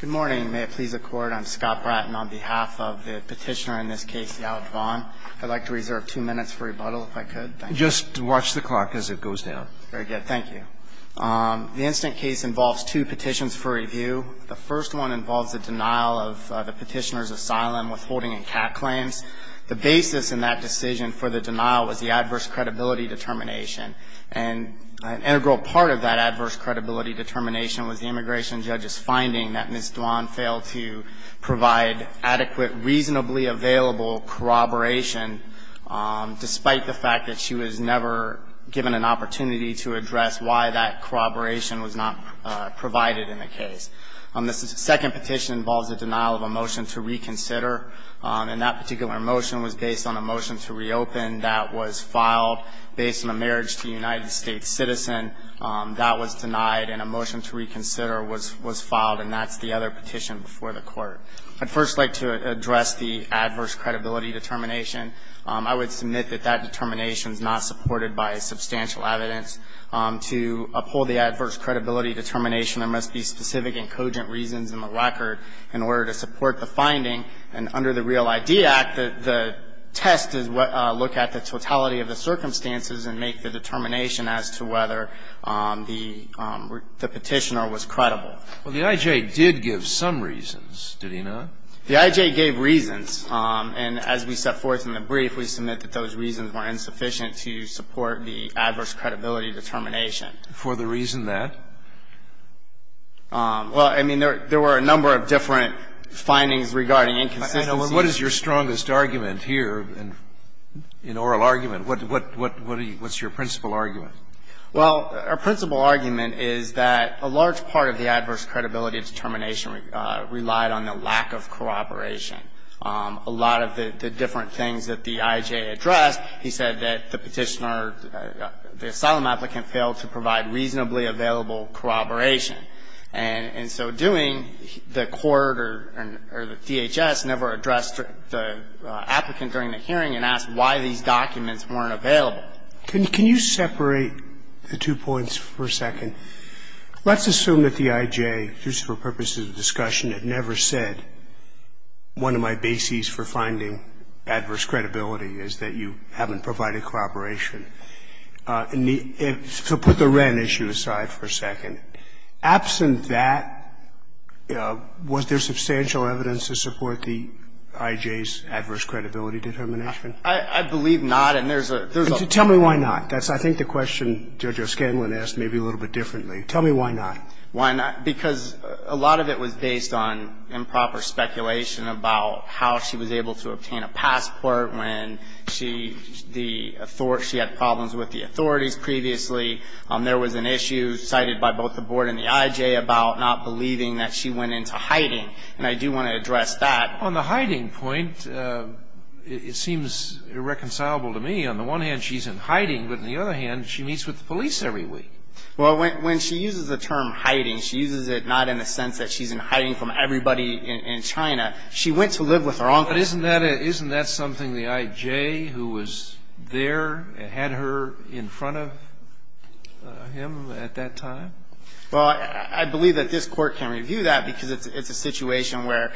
Good morning. May it please the Court, I'm Scott Bratton on behalf of the petitioner in this case, Yalit Duan. I'd like to reserve two minutes for rebuttal if I could. Just watch the clock as it goes down. Very good. Thank you. The incident case involves two petitions for review. The first one involves the denial of the petitioner's asylum withholding and CAT claims. The basis in that decision for the denial was the adverse credibility determination. And an integral part of that adverse credibility determination was the immigration judge's finding that Ms. Duan failed to provide adequate, reasonably available corroboration, despite the fact that she was never given an opportunity to address why that corroboration was not provided in the case. The second petition involves the denial of a motion to reconsider. And that particular motion was based on a motion to reopen that was filed based on a marriage to a United States citizen. That was denied, and a motion to reconsider was filed, and that's the other petition before the Court. I'd first like to address the adverse credibility determination. I would submit that that determination is not supported by substantial evidence. The I.J. did give some reasons, did he not? The I.J. gave reasons. And as we set forth in the brief, we submit that those reasons were insufficient For the reason that? Well, I mean, there were a number of different findings regarding inconsistencies. I know. But what is your strongest argument here in oral argument? What's your principal argument? Well, our principal argument is that a large part of the adverse credibility determination relied on the lack of corroboration. A lot of the different things that the I.J. addressed, he said that the petitioner or the asylum applicant failed to provide reasonably available corroboration. And so doing, the court or the DHS never addressed the applicant during the hearing and asked why these documents weren't available. Can you separate the two points for a second? Let's assume that the I.J., just for purposes of discussion, had never said, one of my bases for finding adverse credibility is that you haven't provided corroboration. So put the Wren issue aside for a second. Absent that, was there substantial evidence to support the I.J.'s adverse credibility determination? I believe not. And there's a Tell me why not. That's, I think, the question Judge O'Scanlan asked maybe a little bit differently. Tell me why not. Why not? Because a lot of it was based on improper speculation about how she was able to obtain a passport when she, the, she had problems with the authorities previously. There was an issue cited by both the Board and the I.J. about not believing that she went into hiding. And I do want to address that. On the hiding point, it seems irreconcilable to me. On the one hand, she's in hiding. But on the other hand, she meets with the police every week. Well, when she uses the term hiding, she uses it not in the sense that she's in hiding from everybody in China. She went to live with her uncle. But isn't that a, isn't that something the I.J. who was there had her in front of him at that time? Well, I believe that this Court can review that, because it's a situation where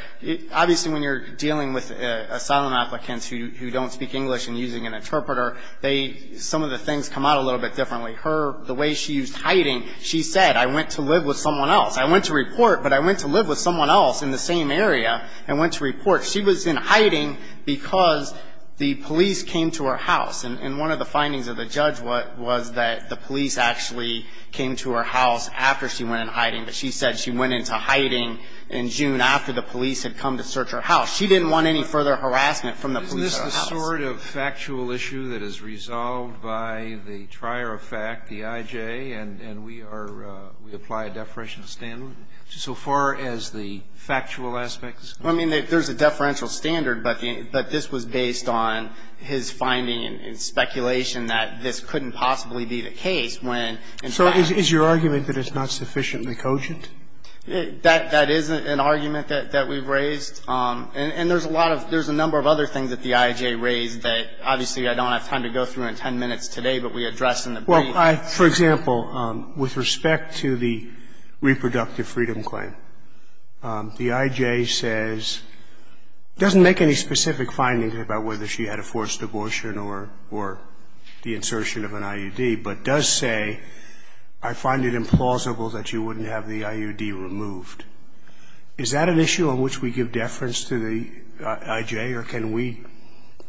obviously when you're dealing with asylum applicants who don't speak English and using an interpreter, they, some of the things come out a little bit differently. Her, the way she used hiding, she said, I went to live with someone else. I went to report, but I went to live with someone else in the same area and went to report. She was in hiding because the police came to her house. And one of the findings of the judge was that the police actually came to her house after she went in hiding. But she said she went into hiding in June after the police had come to search her She didn't want any further harassment from the police at her house. Is there any sort of factual issue that is resolved by the trier of fact, the I.J., and we are, we apply a deferential standard? So far as the factual aspects? I mean, there's a deferential standard, but this was based on his finding and speculation that this couldn't possibly be the case when in fact. So is your argument that it's not sufficiently cogent? That is an argument that we've raised. And there's a lot of, there's a number of other things that the I.J. raised that obviously I don't have time to go through in ten minutes today, but we addressed in the brief. Well, I, for example, with respect to the reproductive freedom claim, the I.J. says, doesn't make any specific findings about whether she had a forced abortion or the insertion of an IUD, but does say, I find it implausible that she wouldn't have the IUD removed. Is that an issue on which we give deference to the I.J.? Or can we,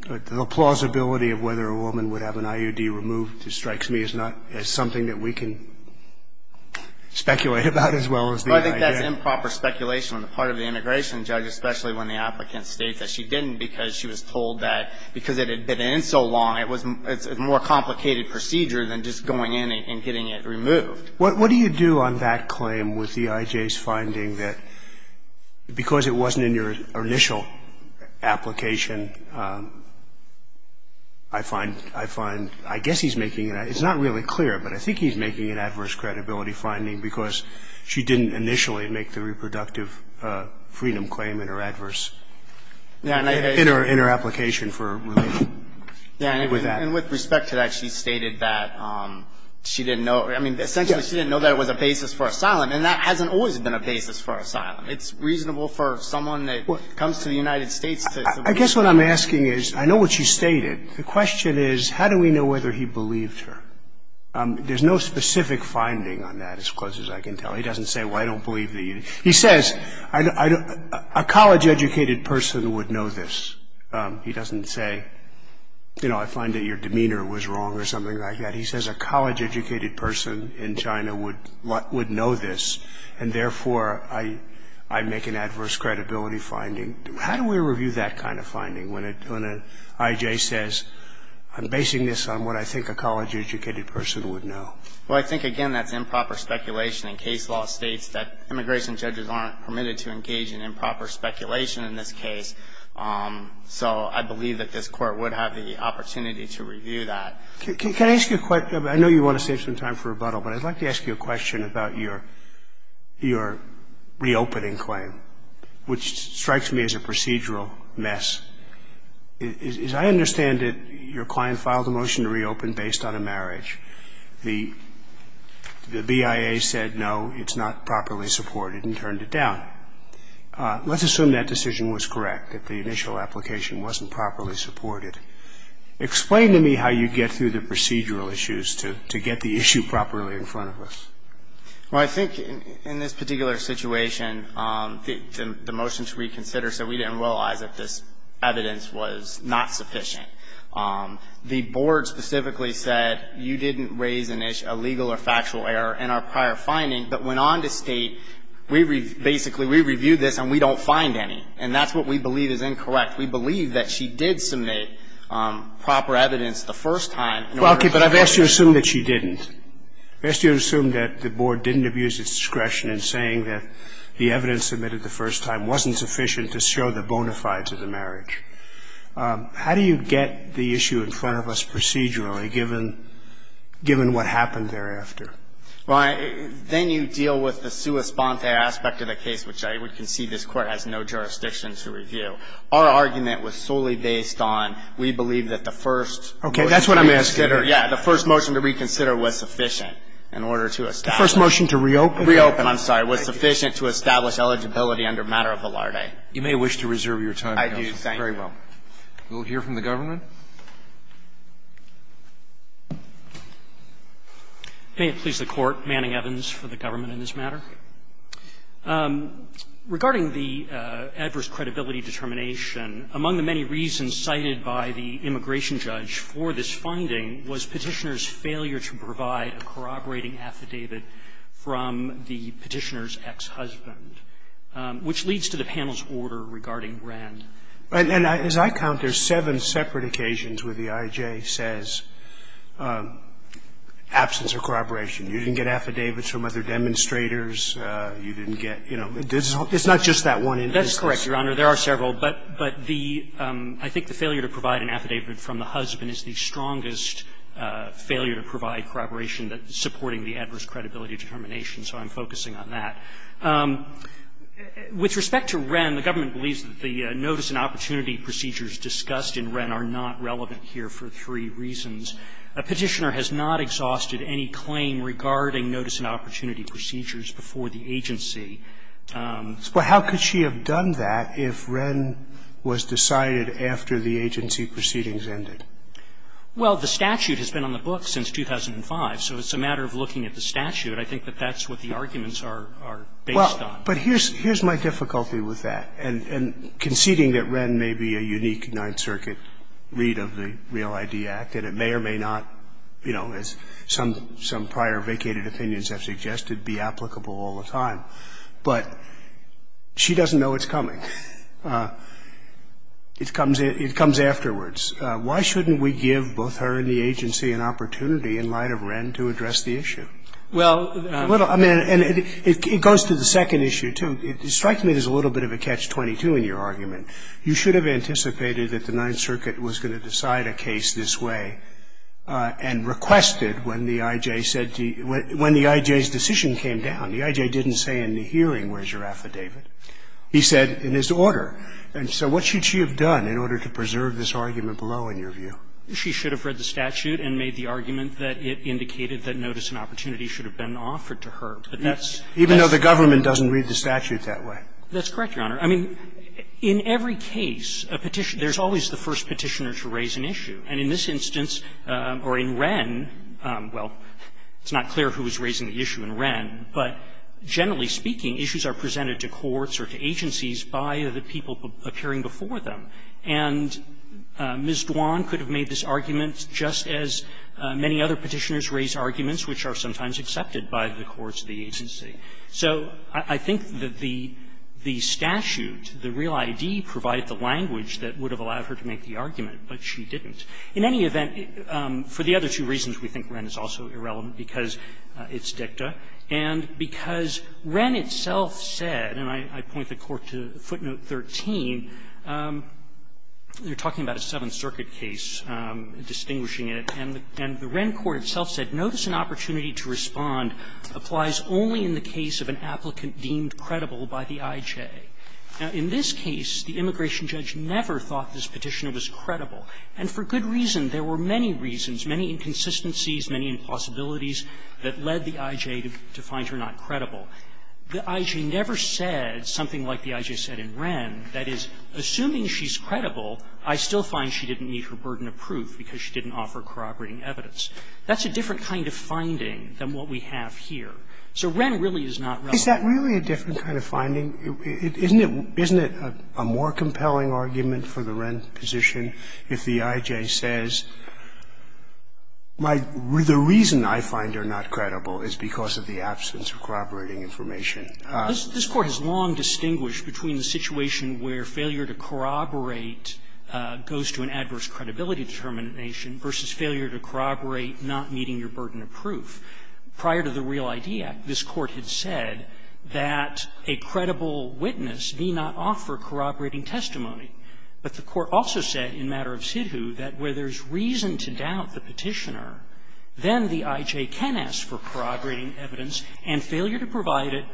the plausibility of whether a woman would have an IUD removed strikes me as not, as something that we can speculate about as well as the I.J. Well, I think that's improper speculation on the part of the integration judge, especially when the applicant states that she didn't because she was told that because it had been in so long, it was, it's a more complicated procedure than just going in and getting it removed. But what do you do on that claim with the I.J.'s finding that because it wasn't in your initial application, I find, I find, I guess he's making, it's not really clear, but I think he's making an adverse credibility finding because she didn't initially make the reproductive freedom claim in her adverse, in her application for removal. Yeah. And with respect to that, she stated that she didn't know, I mean, essentially she didn't know that it was a basis for asylum, and that hasn't always been a basis for asylum. It's reasonable for someone that comes to the United States to. I guess what I'm asking is, I know what she stated. The question is, how do we know whether he believed her? There's no specific finding on that as close as I can tell. He doesn't say, well, I don't believe the I.J. He says, a college-educated person would know this. And therefore, I make an adverse credibility finding. How do we review that kind of finding when an I.J. says, I'm basing this on what I think a college-educated person would know? Well, I think, again, that's improper speculation, and case law states that immigration judges aren't permitted to engage in improper speculation in this I don't know. I don't know. I don't know. I don't know. So I believe that this Court would have the opportunity to review that. can I ask you a question? I know you want to save some time for rebuttal, but I'd like to ask you a question about your – your reopening claim, which strikes me as a procedural mess. As I understand it, your client filed a motion to reopen based on a marriage. The BIA said no, it's not properly supported and turned it down. Let's assume that decision was correct, that the initial application wasn't properly supported. Explain to me how you get through the procedural issues to get the issue properly in front of us. Well, I think in this particular situation, the motion to reconsider said we didn't realize that this evidence was not sufficient. The Board specifically said you didn't raise a legal or factual error in our prior finding, but went on to state we – basically, we reviewed this and we don't find any. And that's what we believe is incorrect. We believe that she did submit proper evidence the first time. Well, okay, but I've asked you to assume that she didn't. I've asked you to assume that the Board didn't abuse its discretion in saying that the evidence submitted the first time wasn't sufficient to show the bona fides of the marriage. How do you get the issue in front of us procedurally, given – given what happened thereafter? Well, then you deal with the sua sponte aspect of the case, which I would concede this Court has no jurisdiction to review. Our argument was solely based on we believe that the first motion to reconsider. Okay. That's what I'm asking. Yeah. The first motion to reconsider was sufficient in order to establish. The first motion to reopen. Reopen, I'm sorry, was sufficient to establish eligibility under matter of valarde. You may wish to reserve your time, counsel. I do, thank you. Very well. We'll hear from the government. May it please the Court. Manning, Evans, for the government in this matter. Regarding the adverse credibility determination, among the many reasons cited by the immigration judge for this finding was Petitioner's failure to provide a corroborating affidavit from the Petitioner's ex-husband, which leads to the panel's order regarding Rand. And as I count, there's seven separate occasions where the IJ says absence of corroboration. You didn't get affidavits from other demonstrators. You didn't get, you know, it's not just that one instance. That's correct, Your Honor. There are several. But the – I think the failure to provide an affidavit from the husband is the strongest failure to provide corroboration that's supporting the adverse credibility determination, so I'm focusing on that. With respect to Rand, the government believes that the notice and opportunity procedures discussed in Rand are not relevant here for three reasons. Petitioner has not exhausted any claim regarding notice and opportunity procedures before the agency. But how could she have done that if Rand was decided after the agency proceedings ended? Well, the statute has been on the books since 2005, so it's a matter of looking at the statute. I think that that's what the arguments are based on. Well, but here's my difficulty with that. And conceding that Rand may be a unique Ninth Circuit read of the REAL ID Act, and it may or may not, you know, as some prior vacated opinions have suggested, be applicable all the time. But she doesn't know it's coming. It comes afterwards. Why shouldn't we give both her and the agency an opportunity in light of Rand to address the issue? Well, I mean, and it goes to the second issue, too. It strikes me there's a little bit of a catch-22 in your argument. You should have anticipated that the Ninth Circuit was going to decide a case this way and requested when the I.J. said to you – when the I.J.'s decision came down. The I.J. didn't say in the hearing, where's your affidavit? He said in his order. And so what should she have done in order to preserve this argument below, in your view? She should have read the statute and made the argument that it indicated that notice and opportunity should have been offered to her, but that's – Even though the government doesn't read the statute that way. That's correct, Your Honor. I mean, in every case, there's always the first Petitioner to raise an issue. And in this instance, or in Wren, well, it's not clear who was raising the issue in Wren, but generally speaking, issues are presented to courts or to agencies by the people appearing before them. And Ms. Dwan could have made this argument, just as many other Petitioners raise arguments which are sometimes accepted by the courts of the agency. So I think that the statute, the real ID, provided the language that would have allowed her to make the argument, but she didn't. In any event, for the other two reasons, we think Wren is also irrelevant, because it's dicta, and because Wren itself said, and I point the Court to footnote 13, they're talking about a Seventh Circuit case, distinguishing it, and the Wren court itself said, Notice an opportunity to respond applies only in the case of an applicant deemed credible by the I.J. Now, in this case, the immigration judge never thought this Petitioner was credible. And for good reason. There were many reasons, many inconsistencies, many impossibilities that led the I.J. to find her not credible. The I.J. never said something like the I.J. said in Wren, that is, assuming she's credible, I still find she didn't need her burden of proof because she didn't offer corroborating evidence. That's a different kind of finding than what we have here. So Wren really is not relevant. Sotomayor Is that really a different kind of finding? Isn't it a more compelling argument for the Wren position if the I.J. says the reason I find her not credible is because of the absence of corroborating information? This Court has long distinguished between the situation where failure to corroborate goes to an adverse credibility determination versus failure to corroborate not needing your burden of proof. Prior to the Real ID Act, this Court had said that a credible witness need not offer corroborating testimony. But the Court also said in matter of SIDHU that where there's reason to doubt the Petitioner, then the I.J. can ask for corroborating evidence, and failure to provide it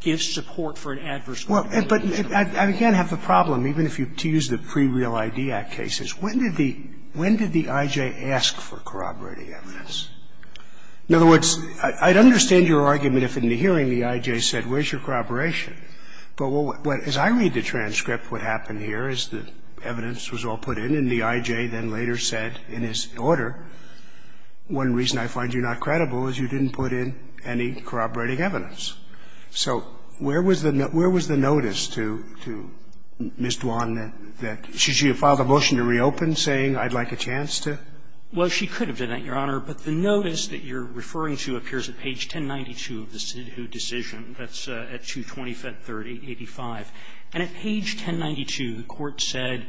gives support for an adverse credibility determination. Scalia. But I, again, have the problem, even if you use the pre-Real ID Act cases, when did the I.J. ask for corroborating evidence? In other words, I'd understand your argument if in the hearing the I.J. said, where's your corroboration? But as I read the transcript, what happened here is the evidence was all put in, and the I.J. then later said in his order, one reason I find you not credible is you didn't put in any corroborating evidence. So where was the notice to Ms. Dwan that she had filed a motion to reopen, saying I'd like a chance to? Well, she could have done that, Your Honor, but the notice that you're referring to appears at page 1092 of the SIDHU decision. That's at 220-530-85. And at page 1092, the Court said,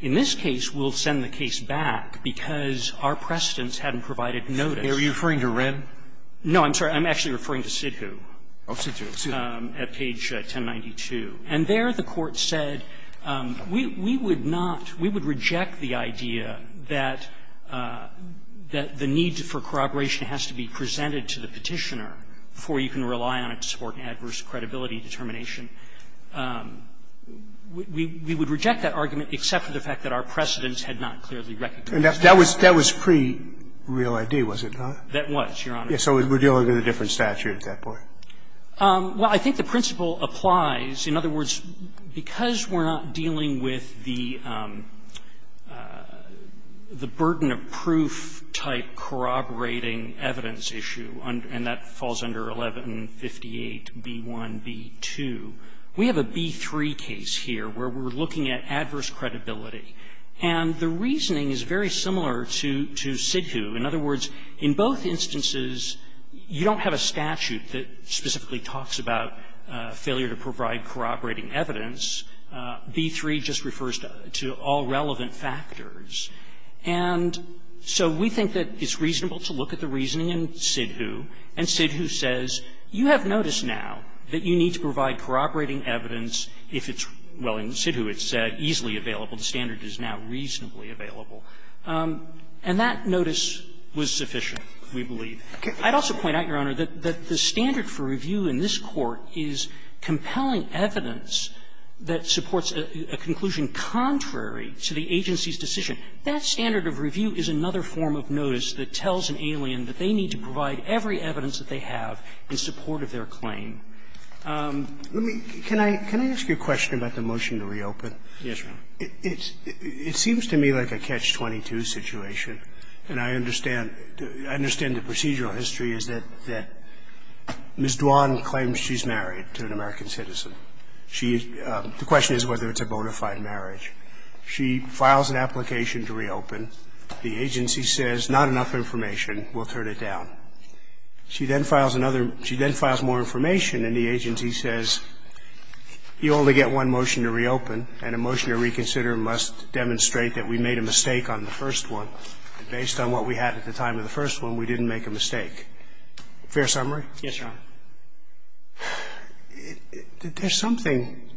in this case, we'll send the case back because our precedents hadn't provided notice. Are you referring to Wren? No, I'm sorry. I'm actually referring to SIDHU. Oh, SIDHU, SIDHU. At page 1092. And there the Court said, we would not we would reject the idea that the need for corroboration has to be presented to the Petitioner before you can rely on it to support an adverse credibility determination. We would reject that argument except for the fact that our precedents had not clearly recognized that. And that was pre-real ID, was it not? That was, Your Honor. So we're dealing with a different statute at that point? Well, I think the principle applies. In other words, because we're not dealing with the burden of proof-type corroborating evidence issue, and that falls under 1158b1b2, we have a b3 case here where we're looking at adverse credibility. And the reasoning is very similar to SIDHU. In other words, in both instances, you don't have a statute that specifically talks about failure to provide corroborating evidence. B3 just refers to all relevant factors. And so we think that it's reasonable to look at the reasoning in SIDHU, and SIDHU says, you have notice now that you need to provide corroborating evidence if it's well, in SIDHU it's easily available. The standard is now reasonably available. And that notice was sufficient, we believe. I'd also point out, Your Honor, that the standard for review in this Court is compelling evidence that supports a conclusion contrary to the agency's decision. That standard of review is another form of notice that tells an alien that they need to provide every evidence that they have in support of their claim. Roberts, Let me ask you a question about the motion to reopen. It seems to me like a catch-22 situation, and I understand the procedural history is that Ms. Dwan claims she's married to an American citizen. The question is whether it's a bona fide marriage. She files an application to reopen. The agency says, not enough information, we'll turn it down. She then files another – she then files more information, and the agency says, you only get one motion to reopen, and a motion to reconsider must demonstrate that we made a mistake on the first one, and based on what we had at the time of the first one, we didn't make a mistake. Fair summary? Yes, Your Honor. There's something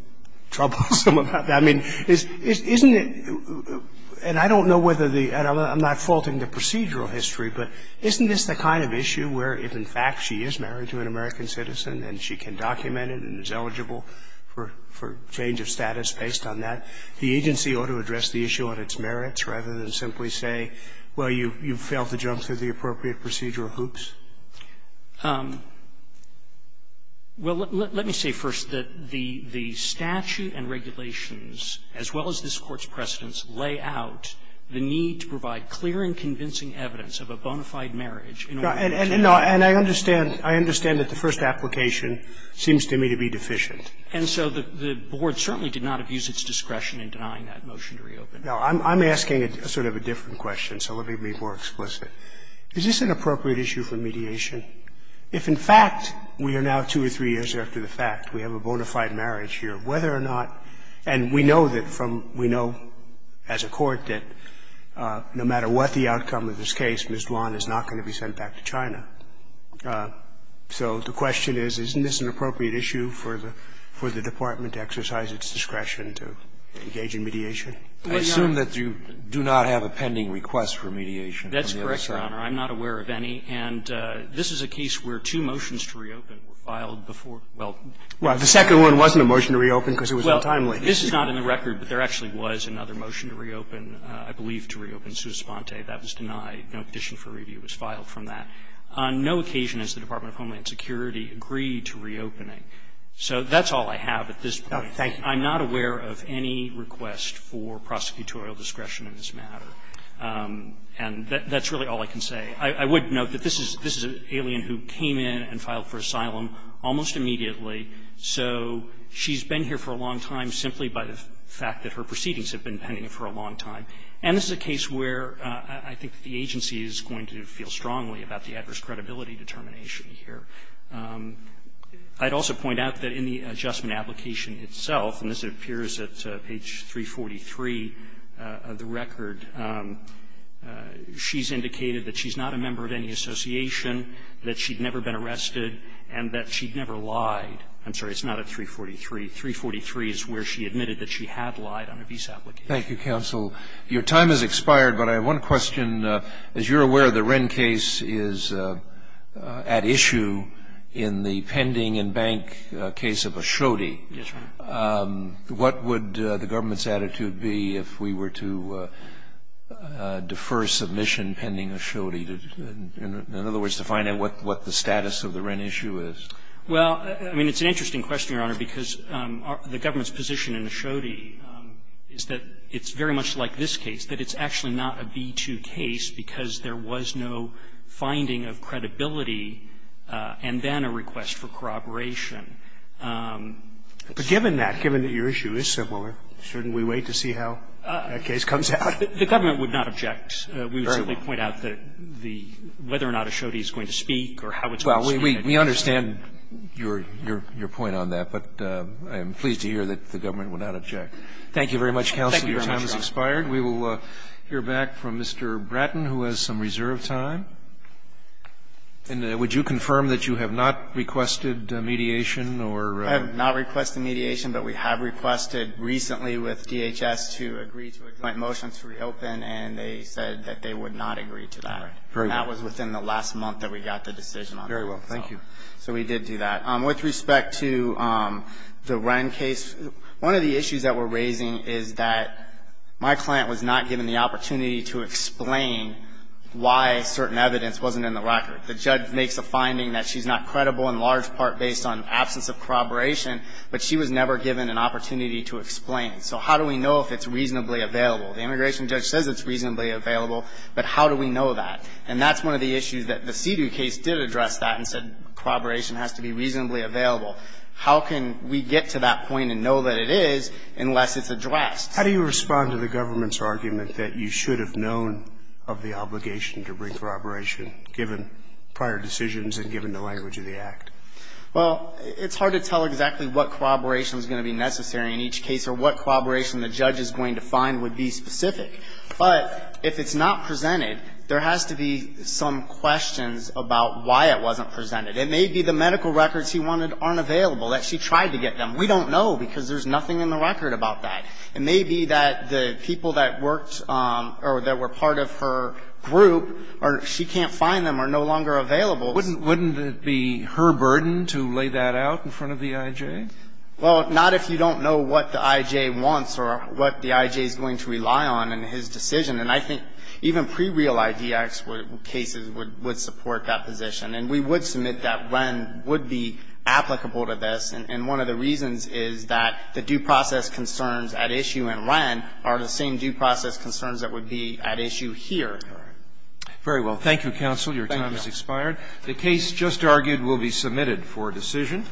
troublesome about that. I mean, isn't it – and I don't know whether the – and I'm not faulting the procedural history, but isn't this the kind of issue where if, in fact, she is married to an American citizen and she can document it and is eligible for change of status based on that, the agency ought to address the issue on its merits rather than simply say, well, you failed to jump through the appropriate procedural hoops? Well, let me say first that the statute and regulations, as well as this Court's precedents, lay out the need to provide clear and convincing evidence of a bona fide marriage in order to change the statute. And I understand – I understand that the first application seems to me to be deficient. And so the Board certainly did not abuse its discretion in denying that motion to reopen. No. I'm asking a sort of a different question, so let me be more explicit. Is this an appropriate issue for mediation if, in fact, we are now two or three years after the fact, we have a bona fide marriage here, whether or not – and we know that from – we know as a court that no matter what the outcome of this case, Ms. Duan is not going to be sent back to China. So the question is, isn't this an appropriate issue for the – for the department to exercise its discretion to engage in mediation? I assume that you do not have a pending request for mediation. That's correct, Your Honor. I'm not aware of any. And this is a case where two motions to reopen were filed before – well. Well, the second one wasn't a motion to reopen because it was untimely. Well, this is not in the record, but there actually was another motion to reopen, I believe to reopen sui sponte. That was denied. No petition for review was filed from that. On no occasion has the Department of Homeland Security agreed to reopening. So that's all I have at this point. Thank you. I'm not aware of any request for prosecutorial discretion in this matter. And that's really all I can say. I would note that this is – this is an alien who came in and filed for asylum almost immediately. So she's been here for a long time simply by the fact that her proceedings have been pending for a long time. And this is a case where I think the agency is going to feel strongly about the adverse credibility determination here. I'd also point out that in the adjustment application itself, and this appears at page 343 of the record, she's indicated that she's not a member of any association, that she'd never been arrested, and that she'd never lied. I'm sorry, it's not at 343. 343 is where she admitted that she had lied on a visa application. Thank you, counsel. Your time has expired, but I have one question. As you're aware, the Wren case is at issue in the pending and bank case of Ashodi. Yes, Your Honor. What would the government's attitude be if we were to defer submission pending Ashodi, in other words, to find out what the status of the Wren issue is? Well, I mean, it's an interesting question, Your Honor, because the government's position in Ashodi is that it's very much like this case, that it's actually not a B-2 case because there was no finding of credibility and then a request for corroboration. But given that, given that your issue is similar, shouldn't we wait to see how that case comes out? The government would not object. We would simply point out that the – whether or not Ashodi is going to speak or how it's going to speak. Well, we understand your point on that, but I am pleased to hear that the government would not object. Thank you very much, counsel. Your time has expired. We will hear back from Mr. Bratton, who has some reserve time. And would you confirm that you have not requested mediation or – I have not requested mediation, but we have requested recently with DHS to agree to a joint motion to reopen, and they said that they would not agree to that. All right. Very well. And that was within the last month that we got the decision on that. Very well. Thank you. So we did do that. With respect to the Wren case, one of the issues that we're raising is that my client was not given the opportunity to explain why certain evidence wasn't in the record. The judge makes a finding that she's not credible in large part based on absence of corroboration, but she was never given an opportunity to explain. So how do we know if it's reasonably available? The immigration judge says it's reasonably available, but how do we know that? And that's one of the issues that the Seidu case did address that and said corroboration has to be reasonably available. How can we get to that point and know that it is unless it's addressed? How do you respond to the government's argument that you should have known of the obligation to bring corroboration, given prior decisions and given the language of the Act? Well, it's hard to tell exactly what corroboration is going to be necessary in each case or what corroboration the judge is going to find would be specific. But if it's not presented, there has to be some questions about why it wasn't presented. It may be the medical records he wanted aren't available, that she tried to get them. We don't know because there's nothing in the record about that. It may be that the people that worked or that were part of her group, or she can't find them, are no longer available. Wouldn't it be her burden to lay that out in front of the I.J.? Well, not if you don't know what the I.J. wants or what the I.J. is going to rely on in his decision. And I think even pre-real IDX cases would support that position. And we would submit that Wren would be applicable to this. And one of the reasons is that the due process concerns at issue in Wren are the same due process concerns that would be at issue here. Very well. Thank you, counsel. Your time has expired. The case just argued will be submitted for decision.